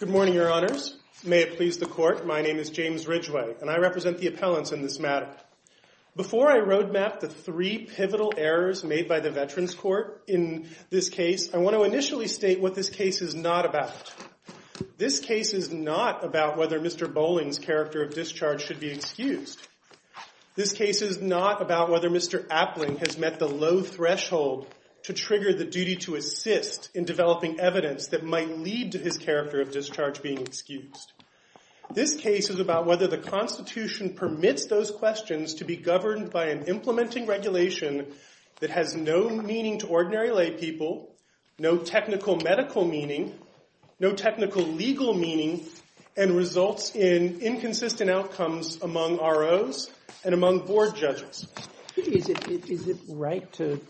Good morning, your honors. May it please the court, my name is James Ridgway and I represent the appellants in this matter. Before I roadmap the three pivotal errors made by the Veterans Court in this case, I want to initially state what this case is not about. This case is not about whether Mr. Bowling's character of discharge should be excused. This case is not about whether Mr. Appling has met the low threshold to trigger the duty to assist in developing evidence that might lead to his character of discharge being excused. This case is about whether the Constitution permits those questions to be governed by an implementing regulation that has no meaning to ordinary lay people, no technical medical meaning, no technical legal meaning, and results in inconsistent outcomes among ROs and among board judges. Is it right to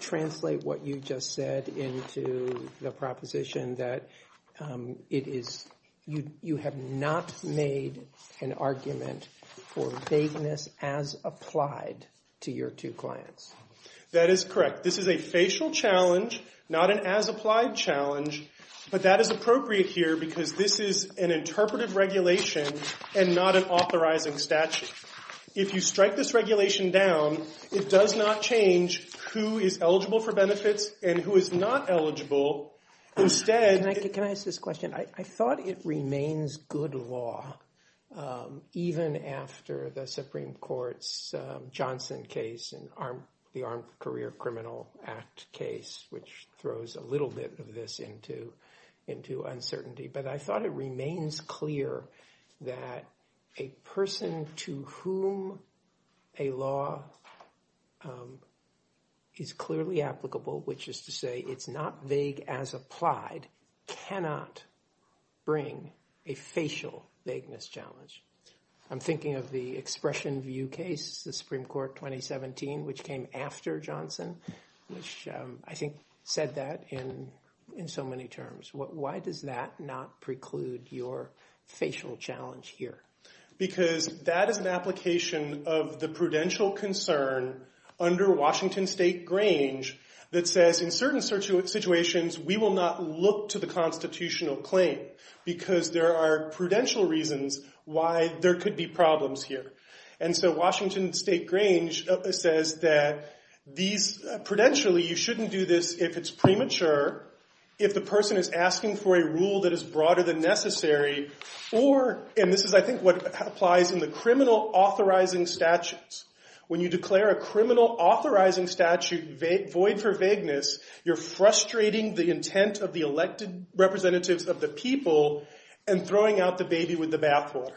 translate what you just said into the proposition that you have not made an argument for vagueness as applied to your two clients? That is correct. This is a facial challenge, not an as applied challenge. But that is appropriate here because this is an interpretive regulation and not an authorizing statute. If you strike this regulation down, it does not change who is eligible for benefits and who is not eligible. Can I ask this question? I thought it remains good law even after the Supreme Court's Johnson case and the Armed Career Criminal Act case, which throws a little bit of this into uncertainty. But I thought it remains clear that a person to whom a law is clearly applicable, which is to say it's not vague as applied, cannot bring a facial vagueness challenge. I'm thinking of the Expression View case, the Supreme Court 2017, which came after Johnson, which I think said that in so many terms. Why does that not preclude your facial challenge here? Because that is an application of the prudential concern under Washington State Grange that says in certain situations we will not look to the constitutional claim because there are prudential reasons why there could be problems here. And so Washington State Grange says that prudentially you shouldn't do this if it's premature, if the person is asking for a rule that is broader than necessary, and this is I think what applies in the criminal authorizing statutes. When you declare a criminal authorizing statute void for vagueness, you're frustrating the intent of the elected representatives of the people and throwing out the baby with the bathwater.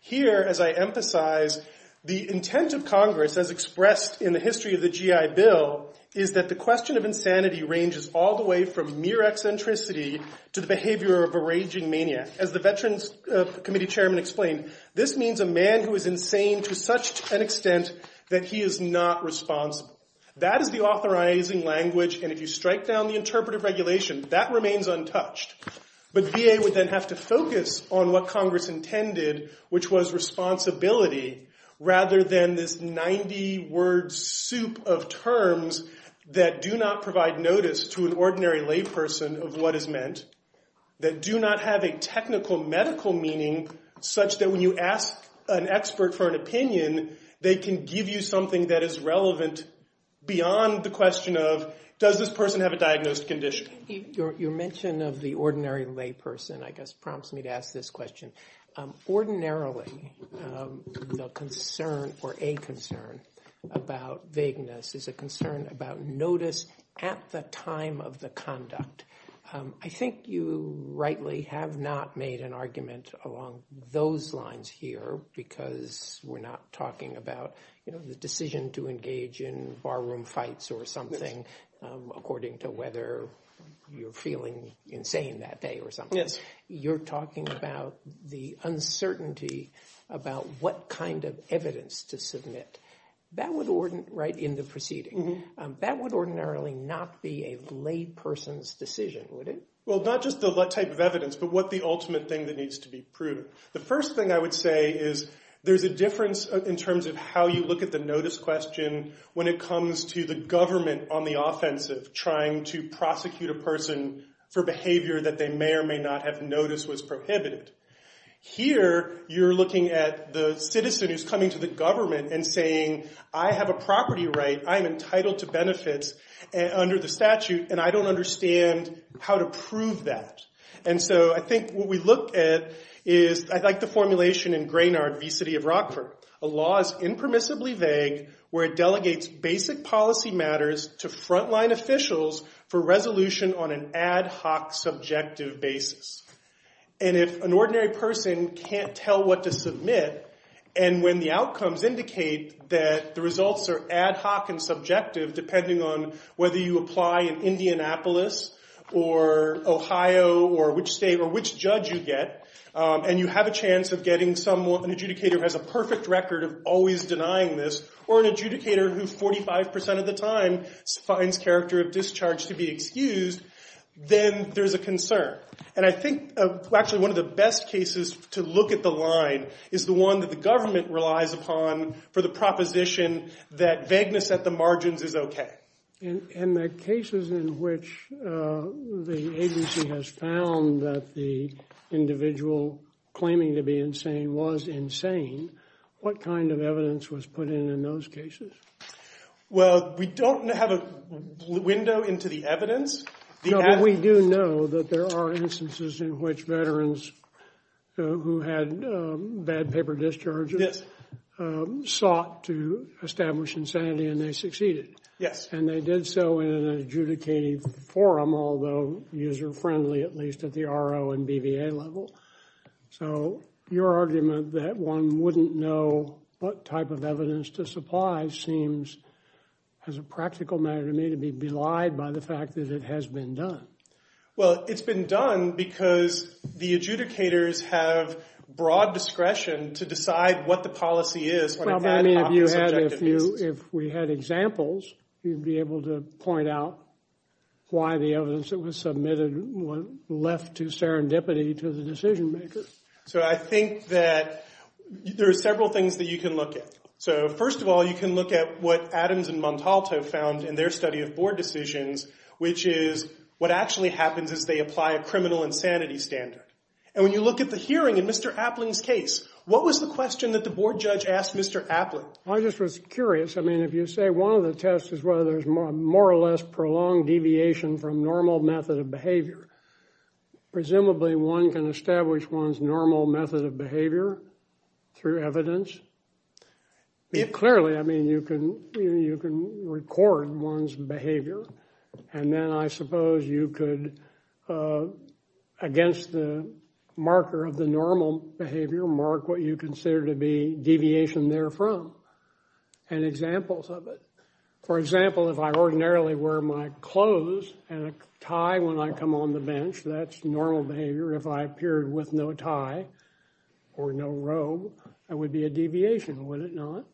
Here, as I emphasize, the intent of Congress as expressed in the history of the GI Bill is that the question of insanity ranges all the way from mere eccentricity to the behavior of a raging maniac. As the Veterans Committee chairman explained, this means a man who is insane to such an extent that he is not responsible. That is the authorizing language, and if you strike down the interpretive regulation, that remains untouched. But VA would then have to focus on what Congress intended, which was responsibility, rather than this 90-word soup of terms that do not provide notice to an ordinary layperson of what is meant, that do not have a technical medical meaning such that when you ask an expert for an opinion, they can give you something that is relevant beyond the question of does this person have a diagnosed condition. Your mention of the ordinary layperson, I guess, prompts me to ask this question. Ordinarily, the concern or a concern about vagueness is a concern about notice at the time of the conduct. I think you rightly have not made an argument along those lines here because we're not talking about the decision to engage in barroom fights or something, according to whether you're feeling insane that day or something. Yes. You're talking about the uncertainty about what kind of evidence to submit. That would ordinarily not be a layperson's decision, would it? Well, not just the type of evidence, but what the ultimate thing that needs to be proven. The first thing I would say is there's a difference in terms of how you look at the notice question when it comes to the government on the offensive trying to prosecute a person for behavior that they may or may not have noticed was prohibited. Here, you're looking at the citizen who's coming to the government and saying, I have a property right. I'm entitled to benefits under the statute, and I don't understand how to prove that. And so I think what we look at is I like the formulation in Graynard v. City of Rockford. A law is impermissibly vague where it delegates basic policy matters to frontline officials for resolution on an ad hoc subjective basis. And if an ordinary person can't tell what to submit, and when the outcomes indicate that the results are ad hoc and subjective depending on whether you apply in Indianapolis or Ohio or which state or which judge you get, and you have a chance of getting someone, an adjudicator who has a perfect record of always denying this, or an adjudicator who 45 percent of the time finds character of discharge to be excused, then there's a concern. And I think actually one of the best cases to look at the line is the one that the government relies upon for the proposition that vagueness at the margins is okay. And the cases in which the agency has found that the individual claiming to be insane was insane, what kind of evidence was put in in those cases? Well, we don't have a window into the evidence. No, but we do know that there are instances in which veterans who had bad paper discharges sought to establish insanity and they succeeded. Yes. And they did so in an adjudicating forum, although user-friendly at least at the RO and BVA level. So your argument that one wouldn't know what type of evidence to supply seems, as a practical matter to me, to be belied by the fact that it has been done. Well, it's been done because the adjudicators have broad discretion to decide what the policy is when it's ad hoc and subjective. If we had examples, you'd be able to point out why the evidence that was submitted was left to serendipity to the decision maker. So I think that there are several things that you can look at. So first of all, you can look at what Adams and Montalto found in their study of board decisions, which is what actually happens is they apply a criminal insanity standard. And when you look at the hearing in Mr. Appling's case, what was the question that the board judge asked Mr. Appling? I just was curious. I mean, if you say one of the tests is whether there's more or less prolonged deviation from normal method of behavior, presumably one can establish one's normal method of behavior through evidence. Clearly, I mean, you can record one's behavior. And then I suppose you could, against the marker of the normal behavior, mark what you consider to be deviation therefrom and examples of it. For example, if I ordinarily wear my clothes and a tie when I come on the bench, that's normal behavior. If I appeared with no tie or no robe, that would be a deviation, would it not?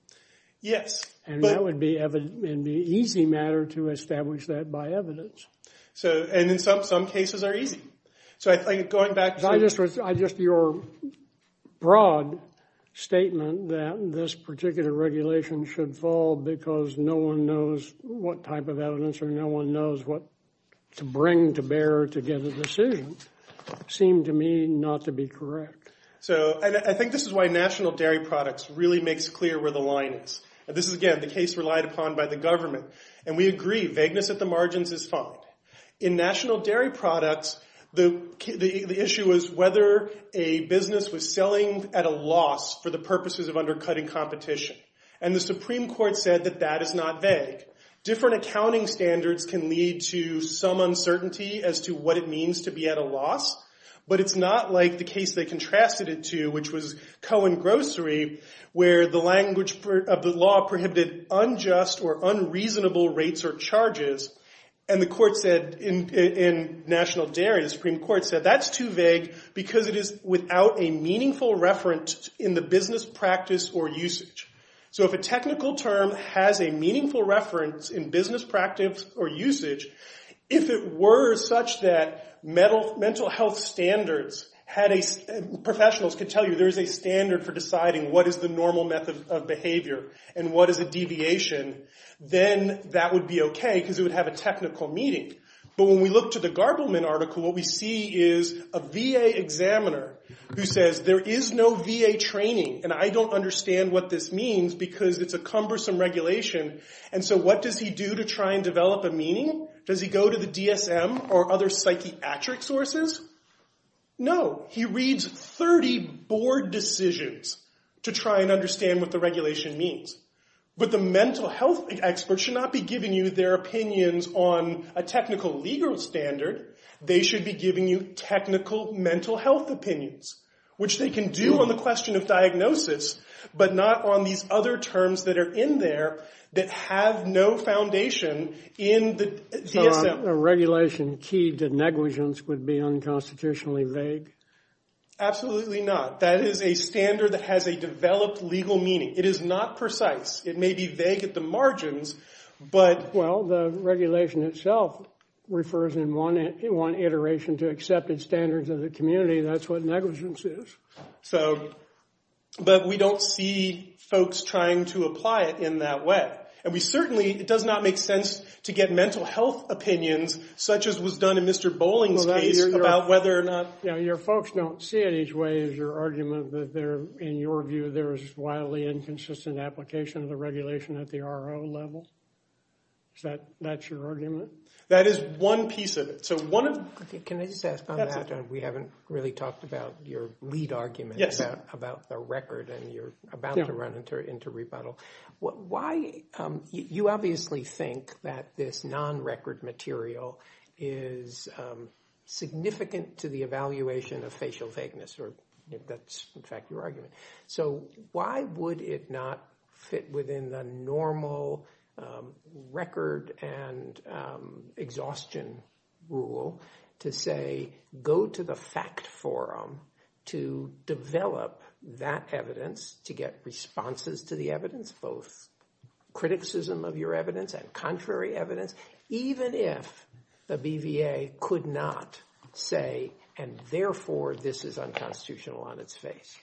Yes. And that would be easy matter to establish that by evidence. And in some cases are easy. Just your broad statement that this particular regulation should fall because no one knows what type of evidence or no one knows what to bring to bear to get a decision seemed to me not to be correct. So I think this is why national dairy products really makes clear where the line is. This is, again, the case relied upon by the government. And we agree vagueness at the margins is fine. In national dairy products, the issue is whether a business was selling at a loss for the purposes of undercutting competition. And the Supreme Court said that that is not vague. Different accounting standards can lead to some uncertainty as to what it means to be at a loss. But it's not like the case they contrasted it to, which was Cohen Grocery, where the language of the law prohibited unjust or unreasonable rates or charges. And the court said in national dairy, the Supreme Court said that's too vague because it is without a meaningful reference in the business practice or usage. So if a technical term has a meaningful reference in business practice or usage, if it were such that mental health standards had a – professionals could tell you there is a standard for deciding what is the normal method of behavior and what is a deviation, then that would be okay because it would have a technical meaning. But when we look to the Garbleman article, what we see is a VA examiner who says there is no VA training, and I don't understand what this means because it's a cumbersome regulation. And so what does he do to try and develop a meaning? Does he go to the DSM or other psychiatric sources? No. He reads 30 board decisions to try and understand what the regulation means. But the mental health experts should not be giving you their opinions on a technical legal standard. They should be giving you technical mental health opinions, which they can do on the question of diagnosis, but not on these other terms that are in there that have no foundation in the DSM. A regulation key to negligence would be unconstitutionally vague? Absolutely not. That is a standard that has a developed legal meaning. It is not precise. It may be vague at the margins, but— Well, the regulation itself refers in one iteration to accepted standards of the community. That's what negligence is. So—but we don't see folks trying to apply it in that way. And we certainly—it does not make sense to get mental health opinions such as was done in Mr. Bolling's case about whether or not— Your folks don't see it each way is your argument that there—in your view, there is wildly inconsistent application of the regulation at the RO level? Is that—that's your argument? That is one piece of it. So one of— Can I just ask on that? We haven't really talked about your lead argument about the record, and you're about to run into rebuttal. Why—you obviously think that this non-record material is significant to the evaluation of facial vagueness, or that's, in fact, your argument. So why would it not fit within the normal record and exhaustion rule to say, go to the fact forum to develop that evidence to get responses to the evidence, both criticism of your evidence and contrary evidence, even if the BVA could not say, and therefore, this is unconstitutional on its face?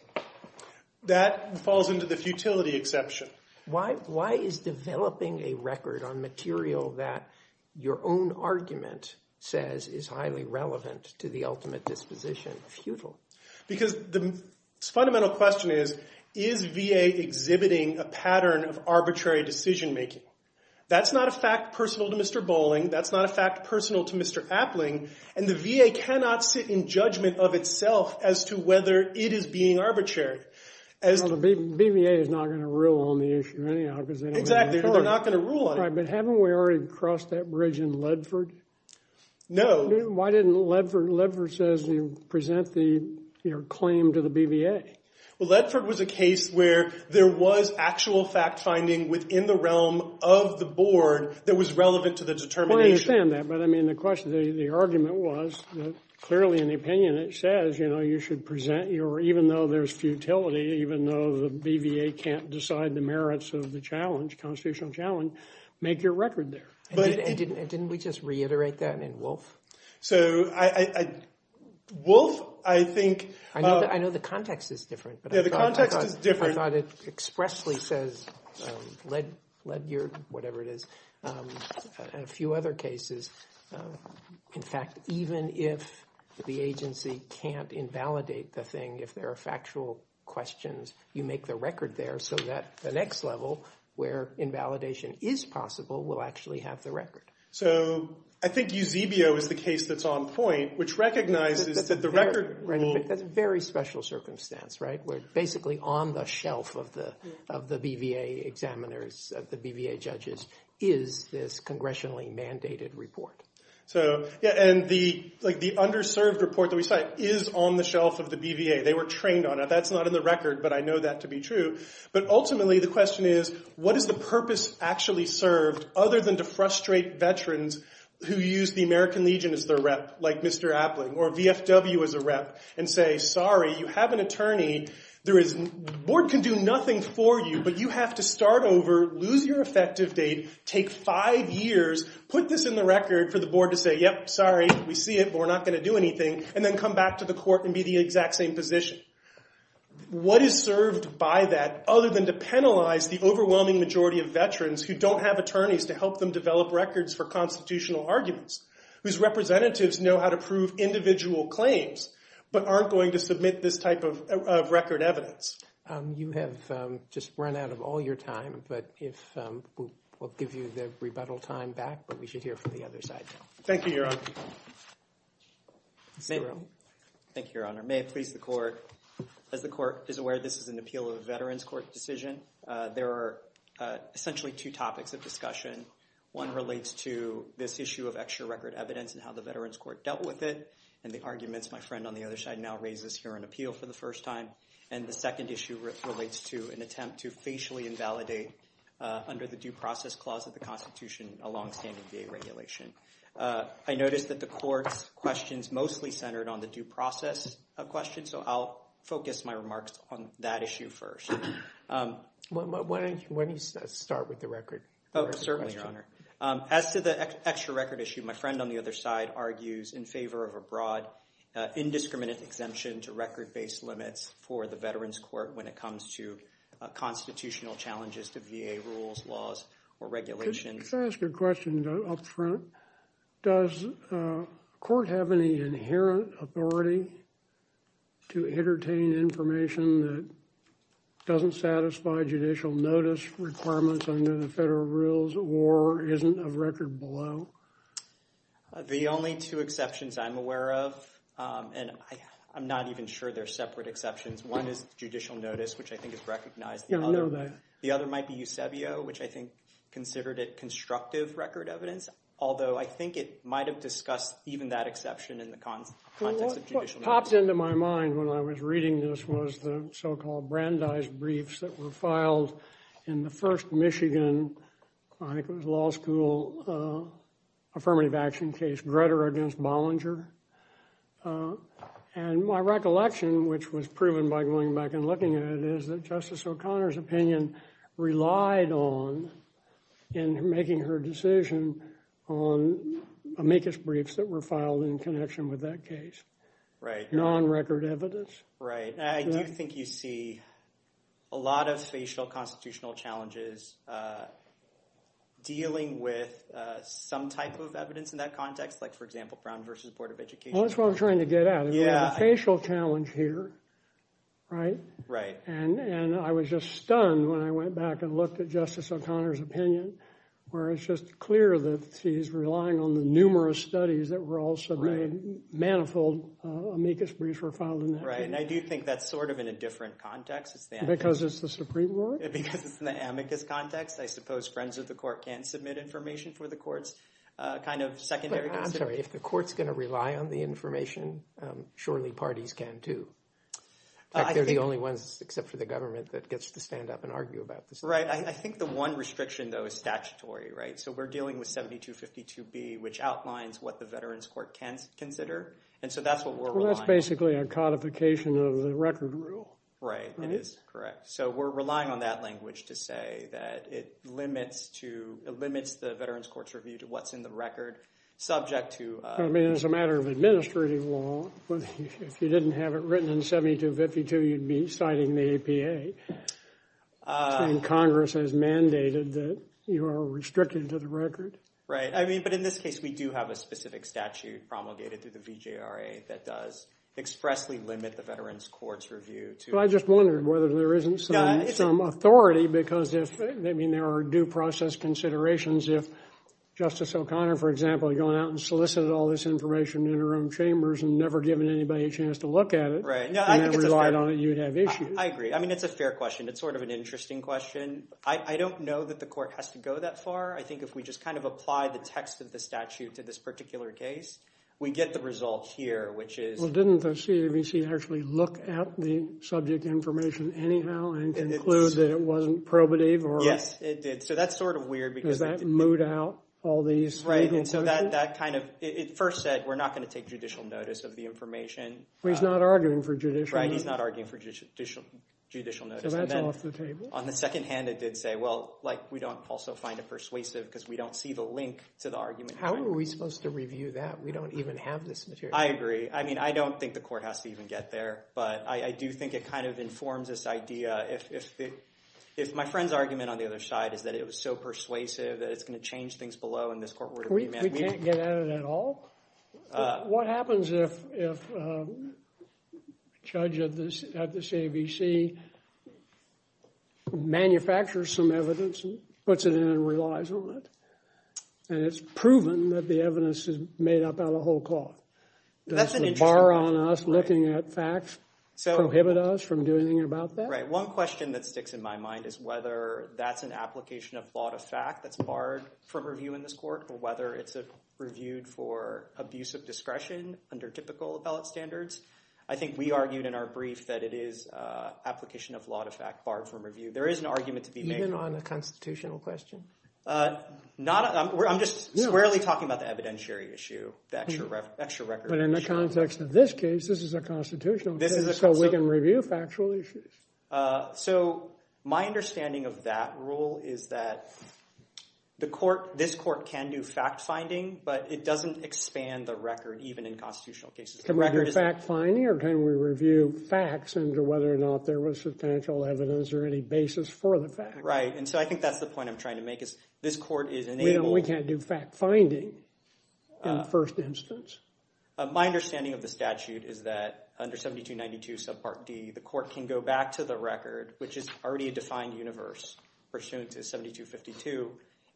That falls into the futility exception. Why is developing a record on material that your own argument says is highly relevant to the ultimate disposition futile? Because the fundamental question is, is VA exhibiting a pattern of arbitrary decision-making? That's not a fact personal to Mr. Bolling. That's not a fact personal to Mr. Appling. And the VA cannot sit in judgment of itself as to whether it is being arbitrary. Well, the BVA is not going to rule on the issue anyhow, because— Exactly. They're not going to rule on it. Right, but haven't we already crossed that bridge in Ledford? No. Why didn't Ledford—Ledford says you present the claim to the BVA. Well, Ledford was a case where there was actual fact-finding within the realm of the board that was relevant to the determination. I understand that, but, I mean, the question—the argument was, clearly in the opinion, it says, you know, you should present your—even though there's futility, even though the BVA can't decide the merits of the challenge, constitutional challenge, make your record there. And didn't we just reiterate that in Wolf? So, I—Wolf, I think— I know the context is different, but I thought— Yeah, the context is different. I thought it expressly says, Ledger, whatever it is, and a few other cases, in fact, even if the agency can't invalidate the thing, if there are factual questions, you make the record there so that the next level, where invalidation is possible, will actually have the record. So, I think Eusebio is the case that's on point, which recognizes that the record— That's a very special circumstance, right, where basically on the shelf of the BVA examiners, of the BVA judges, is this congressionally mandated report. So, yeah, and the underserved report that we cite is on the shelf of the BVA. They were trained on it. That's not in the record, but I know that to be true. But ultimately, the question is, what is the purpose actually served, other than to frustrate veterans who use the American Legion as their rep, like Mr. Appling, or VFW as a rep, and say, sorry, you have an attorney. There is—the board can do nothing for you, but you have to start over, lose your effective date, take five years, put this in the record for the board to say, yep, sorry, we see it, but we're not going to do anything, and then come back to the court and be in the exact same position. What is served by that, other than to penalize the overwhelming majority of veterans who don't have attorneys to help them develop records for constitutional arguments, whose representatives know how to prove individual claims, but aren't going to submit this type of record evidence? You have just run out of all your time, but if—we'll give you the rebuttal time back, but we should hear from the other side now. Thank you, Your Honor. Thank you, Your Honor. May I please the court? As the court is aware, this is an appeal of a veterans court decision. There are essentially two topics of discussion. One relates to this issue of extra record evidence and how the veterans court dealt with it, and the arguments my friend on the other side now raises here on appeal for the first time. And the second issue relates to an attempt to facially invalidate, under the due process clause of the Constitution, a longstanding VA regulation. I noticed that the court's questions mostly centered on the due process question, so I'll focus my remarks on that issue first. Why don't you start with the record? Certainly, Your Honor. As to the extra record issue, my friend on the other side argues in favor of a broad, indiscriminate exemption to record-based limits for the veterans court when it comes to constitutional challenges to VA rules, laws, or regulations. Can I ask a question up front? Does court have any inherent authority to entertain information that doesn't satisfy judicial notice requirements under the federal rules or isn't a record below? The only two exceptions I'm aware of, and I'm not even sure they're separate exceptions, one is judicial notice, which I think is recognized. Yeah, I know that. The other might be Eusebio, which I think considered it constructive record evidence, although I think it might have discussed even that exception in the context of judicial notice. What popped into my mind when I was reading this was the so-called Brandeis briefs that were filed in the first Michigan law school affirmative action case, Grutter against Bollinger. And my recollection, which was proven by going back and looking at it, is that Justice O'Connor's opinion relied on, in making her decision, on amicus briefs that were filed in connection with that case. Non-record evidence. Right. I do think you see a lot of facial constitutional challenges dealing with some type of evidence in that context, like, for example, Brown v. Board of Education. Well, that's what I'm trying to get at. Yeah. We have a facial challenge here, right? Right. And I was just stunned when I went back and looked at Justice O'Connor's opinion, where it's just clear that she's relying on the numerous studies that were also made manifold amicus briefs were filed in that case. Right. And I do think that's sort of in a different context. Because it's the Supreme Court? Because it's in the amicus context. I suppose friends of the court can submit information for the courts, kind of secondary. I'm sorry. If the court's going to rely on the information, surely parties can, too. They're the only ones, except for the government, that gets to stand up and argue about this. Right. I think the one restriction, though, is statutory, right? So we're dealing with 7252B, which outlines what the Veterans Court can consider. And so that's what we're relying on. It's basically a codification of the record rule. Right. It is. Correct. So we're relying on that language to say that it limits the Veterans Court's review to what's in the record, subject to— I mean, as a matter of administrative law, if you didn't have it written in 7252, you'd be citing the APA. Congress has mandated that you are restricted to the record. Right. But in this case, we do have a specific statute promulgated through the VJRA that does expressly limit the Veterans Court's review to— Well, I just wondered whether there isn't some authority because there are due process considerations. If Justice O'Connor, for example, had gone out and solicited all this information in her own chambers and never given anybody a chance to look at it— Right. I think it's a fair— —and then relied on it, you'd have issues. I agree. I mean, it's a fair question. It's sort of an interesting question. I don't know that the court has to go that far. I think if we just kind of apply the text of the statute to this particular case, we get the result here, which is— Well, didn't the CAVC actually look at the subject information anyhow and conclude that it wasn't probative or— Yes, it did. So that's sort of weird because— Because that moved out all these legal— Right. So that kind of—it first said we're not going to take judicial notice of the information. Well, he's not arguing for judicial— Right. He's not arguing for judicial notice. So that's off the table. On the second hand, it did say, well, like, we don't also find it persuasive because we don't see the link to the argument— How are we supposed to review that? We don't even have this material. I agree. I mean, I don't think the court has to even get there, but I do think it kind of informs this idea. If my friend's argument on the other side is that it was so persuasive that it's going to change things below in this court order— We can't get at it at all? What happens if a judge at the CABC manufactures some evidence and puts it in and relies on it, and it's proven that the evidence is made up out of whole cloth? Does the bar on us looking at facts prohibit us from doing anything about that? Right. One question that sticks in my mind is whether that's an application of law to fact that's barred from review in this court or whether it's reviewed for abuse of discretion under typical appellate standards. I think we argued in our brief that it is application of law to fact barred from review. There is an argument to be made— Even on a constitutional question? I'm just squarely talking about the evidentiary issue, the extra record issue. But in the context of this case, this is a constitutional case, so we can review factual issues. So my understanding of that rule is that this court can do fact-finding, but it doesn't expand the record even in constitutional cases. Can we do fact-finding or can we review facts into whether or not there was substantial evidence or any basis for the fact? Right, and so I think that's the point I'm trying to make is this court is enabled— My understanding of the statute is that under 7292 subpart D, the court can go back to the record, which is already a defined universe pursuant to 7252,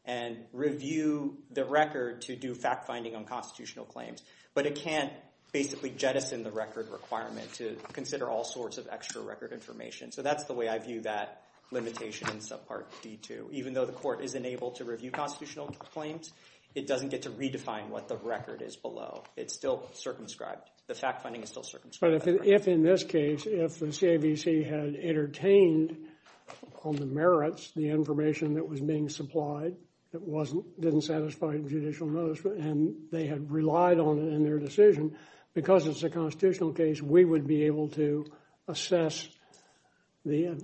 and review the record to do fact-finding on constitutional claims. But it can't basically jettison the record requirement to consider all sorts of extra record information. So that's the way I view that limitation in subpart D2. Even though the court is enabled to review constitutional claims, it doesn't get to redefine what the record is below. It's still circumscribed. The fact-finding is still circumscribed. But if in this case, if the CAVC had entertained on the merits the information that was being supplied that didn't satisfy judicial notice and they had relied on it in their decision, because it's a constitutional case, we would be able to assess the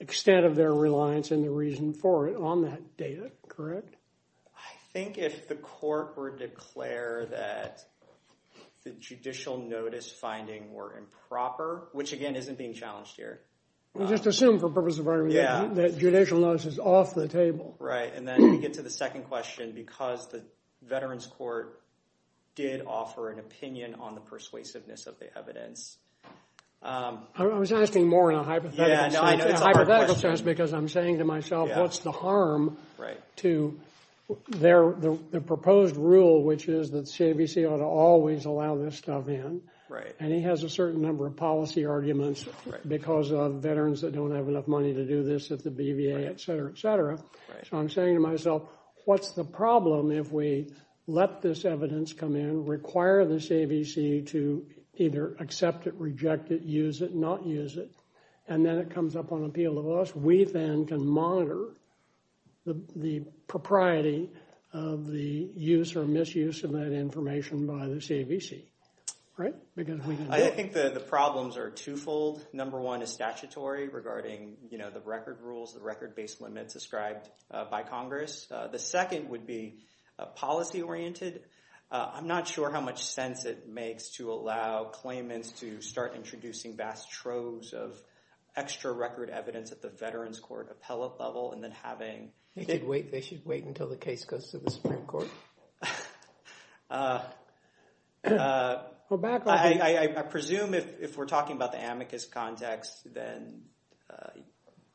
extent of their reliance and the reason for it on that data, correct? I think if the court were to declare that the judicial notice finding were improper, which again isn't being challenged here. Just assume for purpose of argument that judicial notice is off the table. Right. And then we get to the second question, because the Veterans Court did offer an opinion on the persuasiveness of the evidence. I was asking more in a hypothetical sense, because I'm saying to myself, what's the harm to their proposed rule, which is that CAVC ought to always allow this stuff in. Right. And he has a certain number of policy arguments because of veterans that don't have enough money to do this at the BVA, et cetera, et cetera. So I'm saying to myself, what's the problem if we let this evidence come in, require the CAVC to either accept it, reject it, use it, not use it? And then it comes up on appeal to us. We then can monitor the propriety of the use or misuse of that information by the CAVC. Right. I think the problems are twofold. Number one is statutory regarding the record rules, the record based limits ascribed by Congress. The second would be policy oriented. I'm not sure how much sense it makes to allow claimants to start introducing vast troves of extra record evidence at the Veterans Court appellate level and then having- They should wait until the case goes to the Supreme Court. I presume if we're talking about the amicus context, then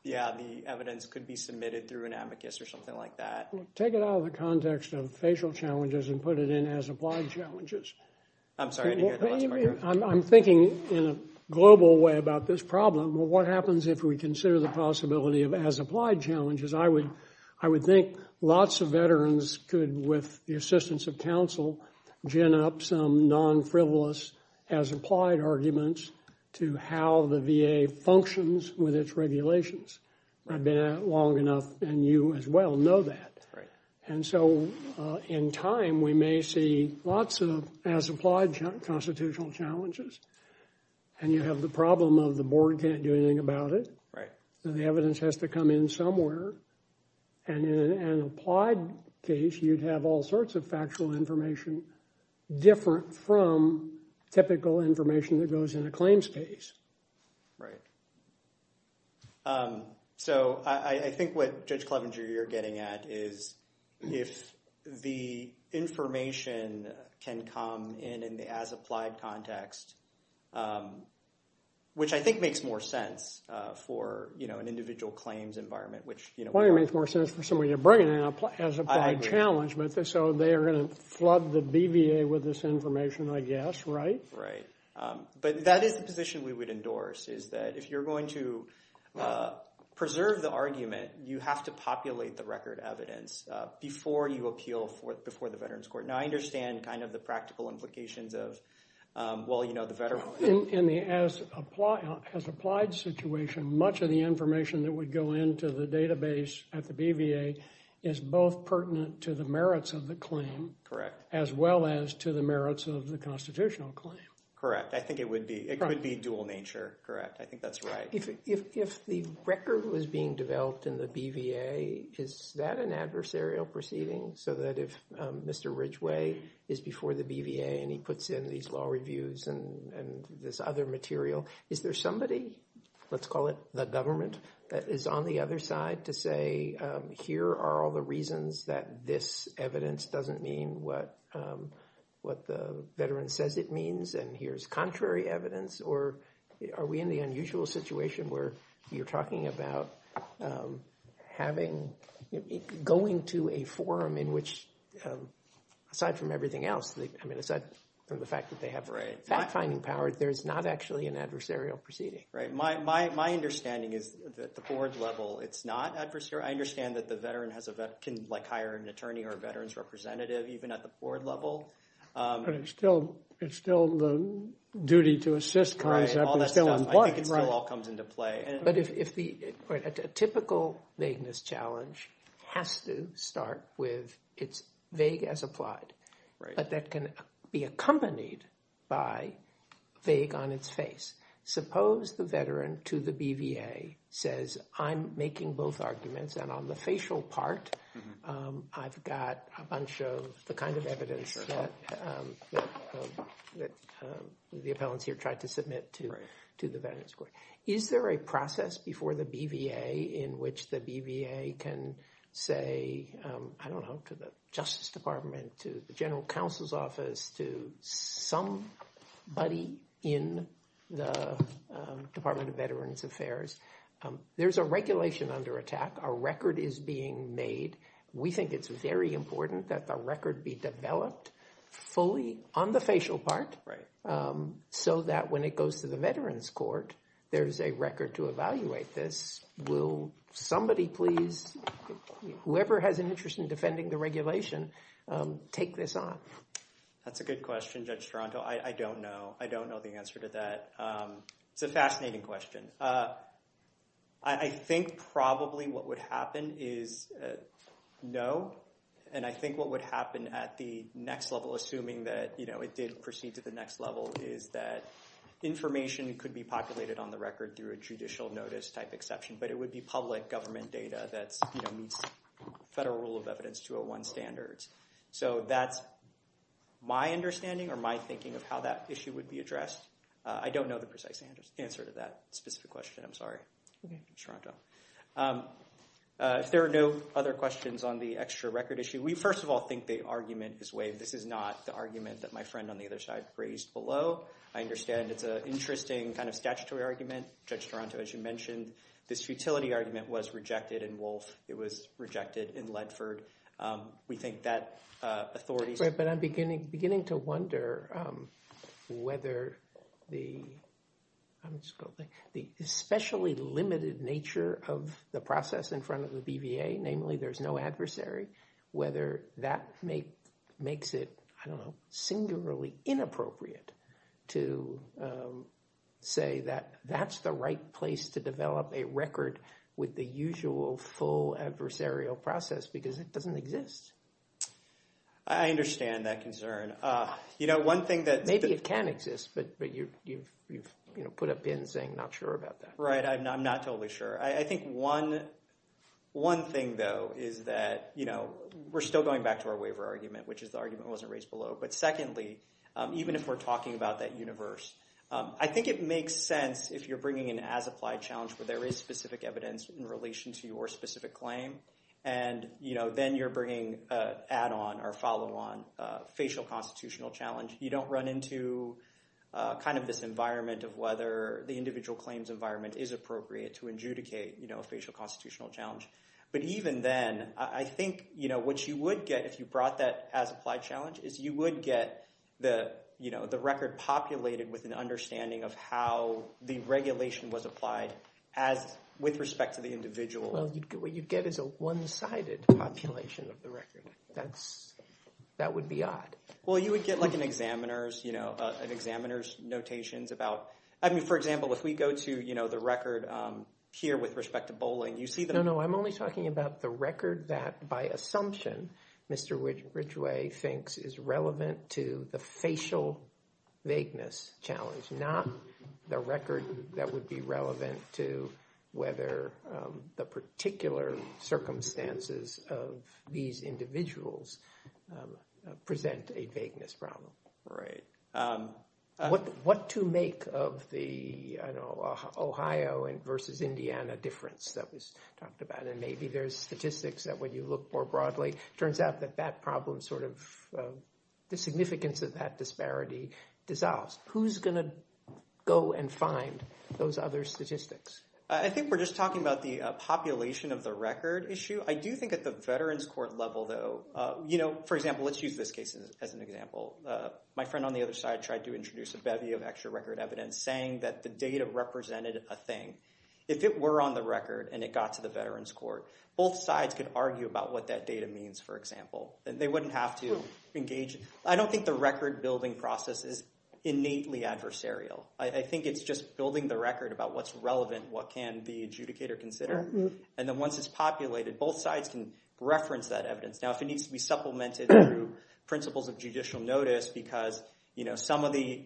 yeah, the evidence could be submitted through an amicus or something like that. Take it out of the context of facial challenges and put it in as applied challenges. I'm sorry, I didn't hear the last part. I'm thinking in a global way about this problem. What happens if we consider the possibility of as applied challenges? I would think lots of veterans could, with the assistance of counsel, gin up some non-frivolous as applied arguments to how the VA functions with its regulations. I've been at it long enough and you as well know that. And so in time, we may see lots of as applied constitutional challenges. And you have the problem of the board can't do anything about it. The evidence has to come in somewhere. And in an applied case, you'd have all sorts of factual information different from typical information that goes in a claims case. Right. So I think what Judge Clevenger, you're getting at is if the information can come in in the as applied context, which I think makes more sense for an individual claims environment. Which probably makes more sense for somebody to bring in as applied challenge. So they are going to flood the BVA with this information, I guess, right? Right. But that is the position we would endorse, is that if you're going to preserve the argument, you have to populate the record evidence before you appeal before the Veterans Court. Now, I understand kind of the practical implications of, well, you know, the veteran. In the as applied situation, much of the information that would go into the database at the BVA is both pertinent to the merits of the claim. Correct. As well as to the merits of the constitutional claim. Correct. I think it would be. It could be dual nature. Correct. I think that's right. If the record was being developed in the BVA, is that an adversarial proceeding? So that if Mr. Ridgeway is before the BVA and he puts in these law reviews and this other material, is there somebody, let's call it the government, that is on the other side to say, here are all the reasons that this evidence doesn't mean what the veteran says it means? And here's contrary evidence? Or are we in the unusual situation where you're talking about having, going to a forum in which, aside from everything else, I mean, aside from the fact that they have fact-finding power, there's not actually an adversarial proceeding. Right. My understanding is that the board level, it's not adversarial. I understand that the veteran can hire an attorney or a veterans representative even at the board level. But it's still the duty to assist concept is still in play. All that stuff. I think it still all comes into play. But a typical vagueness challenge has to start with it's vague as applied. Right. But that can be accompanied by vague on its face. Suppose the veteran to the BVA says, I'm making both arguments and on the facial part, I've got a bunch of the kind of evidence that the appellants here tried to submit to the veterans court. Is there a process before the BVA in which the BVA can say, I don't know, to the Justice Department, to the general counsel's office, to somebody in the Department of Veterans Affairs? There's a regulation under attack. Our record is being made. We think it's very important that the record be developed fully on the facial part. Right. So that when it goes to the veterans court, there's a record to evaluate this. Will somebody please, whoever has an interest in defending the regulation, take this on? That's a good question, Judge Toronto. I don't know. I don't know the answer to that. It's a fascinating question. I think probably what would happen is no. And I think what would happen at the next level, assuming that it did proceed to the next level, is that information could be populated on the record through a judicial notice type exception. But it would be public government data that meets federal rule of evidence 201 standards. So that's my understanding or my thinking of how that issue would be addressed. I don't know the precise answer to that specific question. I'm sorry, Judge Toronto. If there are no other questions on the extra record issue, we first of all think the argument is waived. This is not the argument that my friend on the other side raised below. I understand it's an interesting kind of statutory argument. Judge Toronto, as you mentioned, this futility argument was rejected in Wolfe. It was rejected in Ledford. We think that authorities. But I'm beginning to wonder whether the especially limited nature of the process in front of the BVA, namely there's no adversary, whether that makes it, I don't know, singularly inappropriate to say that that's the right place to develop a record with the usual full adversarial process. Because it doesn't exist. I understand that concern. You know, one thing that. Maybe it can exist, but you've put a pin saying not sure about that. Right. I'm not totally sure. I think one thing, though, is that, you know, we're still going back to our waiver argument, which is the argument wasn't raised below. But secondly, even if we're talking about that universe, I think it makes sense if you're bringing in as applied challenge where there is specific evidence in relation to your specific claim. And, you know, then you're bringing add on or follow on facial constitutional challenge. You don't run into kind of this environment of whether the individual claims environment is appropriate to adjudicate a facial constitutional challenge. But even then, I think, you know, what you would get if you brought that as applied challenge is you would get the, you know, the record populated with an understanding of how the regulation was applied as with respect to the individual. Well, what you'd get is a one sided population of the record. That's that would be odd. Well, you would get like an examiner's, you know, an examiner's notations about. I mean, for example, if we go to, you know, the record here with respect to bowling, you see. No, no, I'm only talking about the record that by assumption, Mr. Ridgeway thinks is relevant to the facial vagueness challenge, not the record that would be relevant to whether the particular circumstances of these individuals present a vagueness problem. Right. What what to make of the Ohio and versus Indiana difference that was talked about? And maybe there's statistics that when you look more broadly, turns out that that problem sort of the significance of that disparity dissolves. Who's going to go and find those other statistics? I think we're just talking about the population of the record issue. I do think at the veterans court level, though, you know, for example, let's use this case as an example. My friend on the other side tried to introduce a bevy of extra record evidence, saying that the data represented a thing. If it were on the record and it got to the veterans court, both sides could argue about what that data means, for example. And they wouldn't have to engage. I don't think the record building process is innately adversarial. What can the adjudicator consider? And then once it's populated, both sides can reference that evidence. Now, if it needs to be supplemented through principles of judicial notice because, you know, some of the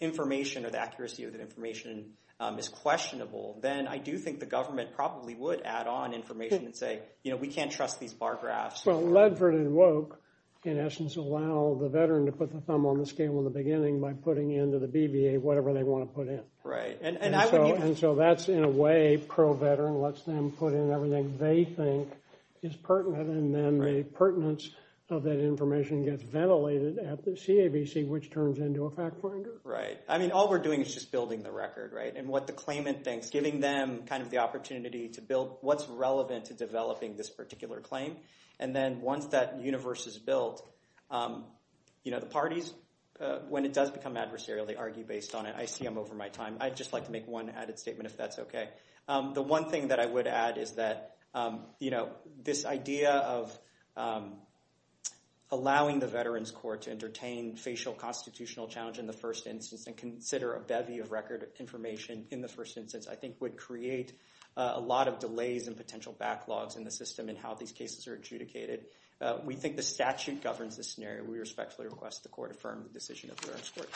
information or the accuracy of that information is questionable. Then I do think the government probably would add on information and say, you know, we can't trust these bar graphs. Well, Ledford and Woke, in essence, allow the veteran to put the thumb on the scale in the beginning by putting into the BVA whatever they want to put in. Right. And so that's in a way pro-veteran, lets them put in everything they think is pertinent. And then the pertinence of that information gets ventilated at the CAVC, which turns into a fact finder. Right. I mean, all we're doing is just building the record. Right. And what the claimant thinks, giving them kind of the opportunity to build what's relevant to developing this particular claim. And then once that universe is built, you know, the parties, when it does become adversarial, they argue based on it. I see I'm over my time. I'd just like to make one added statement, if that's OK. The one thing that I would add is that, you know, this idea of allowing the Veterans Court to entertain facial constitutional challenge in the first instance and consider a bevy of record information in the first instance, I think would create a lot of delays and potential backlogs in the system and how these cases are adjudicated. We think the statute governs the scenario. We respectfully request the court affirm the decision of the Veterans Court.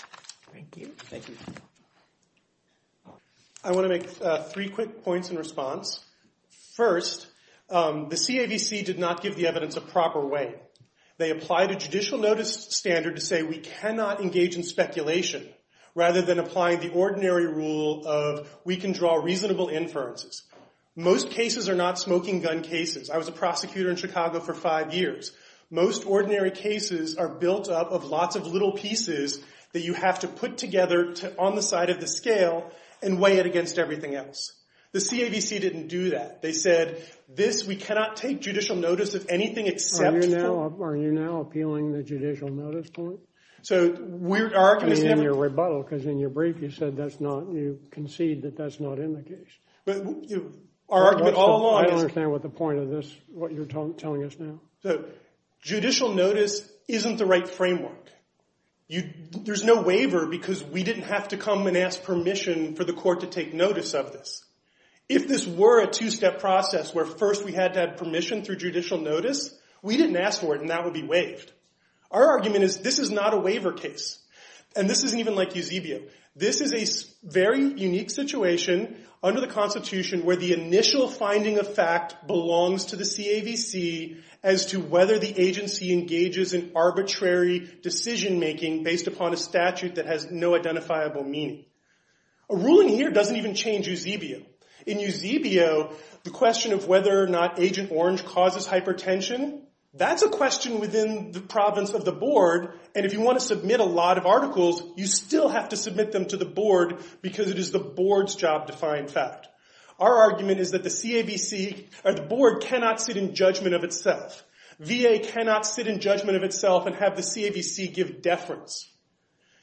Thank you. Thank you. I want to make three quick points in response. First, the CAVC did not give the evidence a proper way. They applied a judicial notice standard to say we cannot engage in speculation rather than applying the ordinary rule of we can draw reasonable inferences. Most cases are not smoking gun cases. I was a prosecutor in Chicago for five years. Most ordinary cases are built up of lots of little pieces that you have to put together on the side of the scale and weigh it against everything else. The CAVC didn't do that. They said, this, we cannot take judicial notice of anything except for... Are you now appealing the judicial notice point? So, our argument is... I mean, in your rebuttal, because in your brief you said that's not, you concede that that's not in the case. But, you know, our argument all along is... Judicial notice isn't the right framework. There's no waiver because we didn't have to come and ask permission for the court to take notice of this. If this were a two-step process where first we had to have permission through judicial notice, we didn't ask for it and that would be waived. Our argument is this is not a waiver case. And this isn't even like Eusebio. This is a very unique situation under the Constitution where the initial finding of fact belongs to the CAVC as to whether the agency engages in arbitrary decision-making based upon a statute that has no identifiable meaning. A ruling here doesn't even change Eusebio. In Eusebio, the question of whether or not Agent Orange causes hypertension, that's a question within the province of the board. And if you want to submit a lot of articles, you still have to submit them to the board because it is the board's job to find fact. Our argument is that the CAVC or the board cannot sit in judgment of itself. VA cannot sit in judgment of itself and have the CAVC give deference.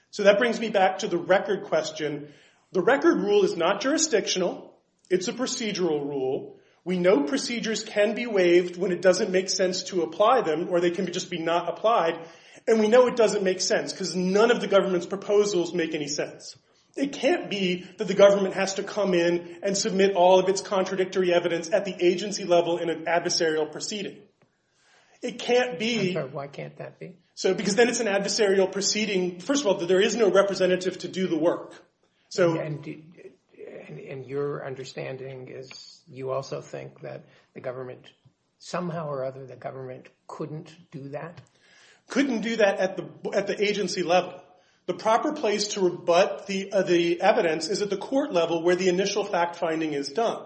So that brings me back to the record question. The record rule is not jurisdictional. It's a procedural rule. We know procedures can be waived when it doesn't make sense to apply them or they can just be not applied. And we know it doesn't make sense because none of the government's proposals make any sense. It can't be that the government has to come in and submit all of its contradictory evidence at the agency level in an adversarial proceeding. It can't be. Why can't that be? Because then it's an adversarial proceeding. First of all, there is no representative to do the work. And your understanding is you also think that the government somehow or other, the government couldn't do that? Couldn't do that at the agency level. The proper place to rebut the evidence is at the court level where the initial fact finding is done.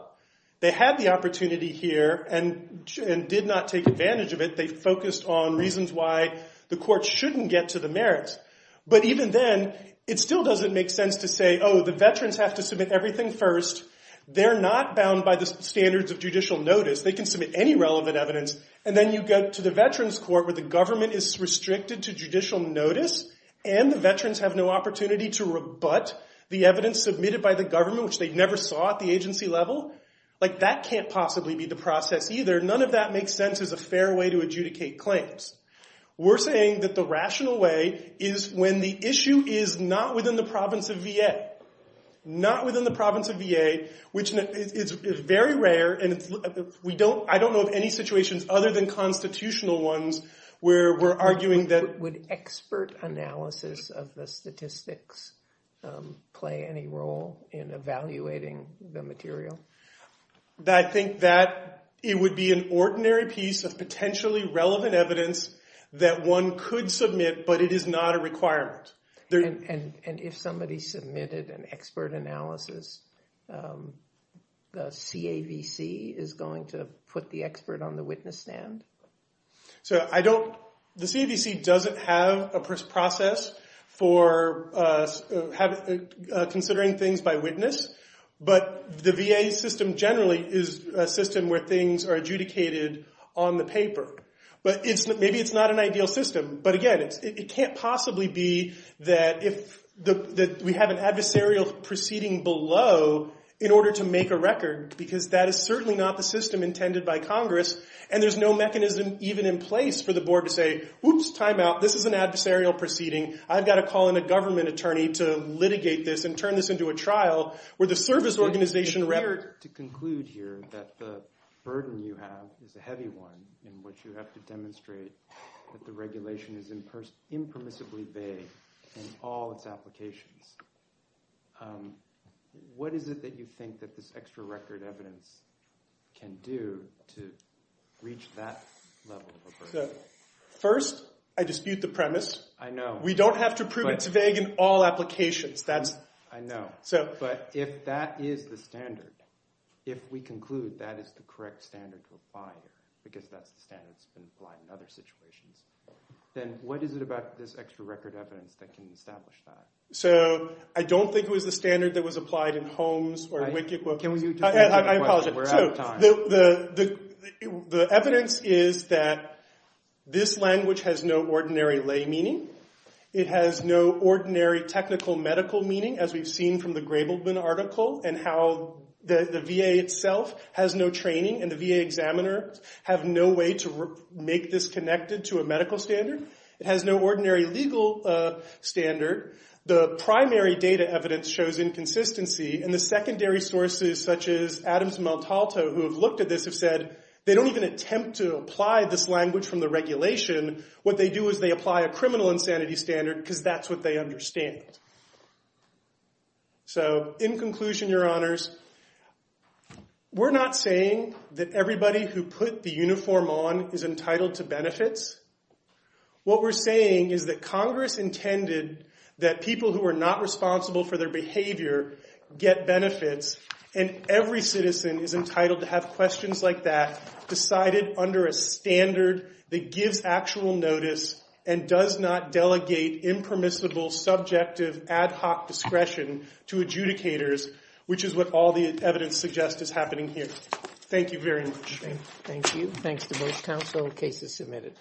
They had the opportunity here and did not take advantage of it. They focused on reasons why the court shouldn't get to the merits. But even then, it still doesn't make sense to say, oh, the veterans have to submit everything first. They're not bound by the standards of judicial notice. They can submit any relevant evidence. And then you go to the veterans court where the government is restricted to judicial notice and the veterans have no opportunity to rebut the evidence submitted by the government, which they never saw at the agency level. Like, that can't possibly be the process either. None of that makes sense as a fair way to adjudicate claims. We're saying that the rational way is when the issue is not within the province of VA. Not within the province of VA, which is very rare. And I don't know of any situations other than constitutional ones where we're arguing that- Would expert analysis of the statistics play any role in evaluating the material? I think that it would be an ordinary piece of potentially relevant evidence that one could submit, but it is not a requirement. And if somebody submitted an expert analysis, the CAVC is going to put the expert on the witness stand? The CAVC doesn't have a process for considering things by witness, but the VA system generally is a system where things are adjudicated on the paper. Maybe it's not an ideal system, but again, it can't possibly be that we have an adversarial proceeding below in order to make a record. Because that is certainly not the system intended by Congress. And there's no mechanism even in place for the board to say, whoops, time out, this is an adversarial proceeding. I've got to call in a government attorney to litigate this and turn this into a trial where the service organization- To conclude here that the burden you have is a heavy one in which you have to demonstrate that the regulation is impermissibly vague in all its applications. What is it that you think that this extra record evidence can do to reach that level of a burden? First, I dispute the premise. We don't have to prove it's vague in all applications. I know, but if that is the standard, if we conclude that is the correct standard to apply here, because that's the standard that's been applied in other situations, then what is it about this extra record evidence that can establish that? So, I don't think it was the standard that was applied in Holmes or Wickett. Can we- I apologize. We're out of time. The evidence is that this language has no ordinary lay meaning. It has no ordinary technical medical meaning, as we've seen from the Grableman article, and how the VA itself has no training and the VA examiner have no way to make this connected to a medical standard. It has no ordinary legal standard. The primary data evidence shows inconsistency, and the secondary sources, such as Adams and Maltalto, who have looked at this have said they don't even attempt to apply this language from the regulation. What they do is they apply a criminal insanity standard because that's what they understand. So, in conclusion, Your Honors, we're not saying that everybody who put the uniform on is entitled to benefits. What we're saying is that Congress intended that people who are not responsible for their behavior get benefits, and every citizen is entitled to have questions like that decided under a standard that gives actual notice and does not delegate impermissible, subjective, ad hoc discretion to adjudicators, which is what all the evidence suggests is happening here. Thank you very much. Thank you. Thanks to both counsel. Case is submitted.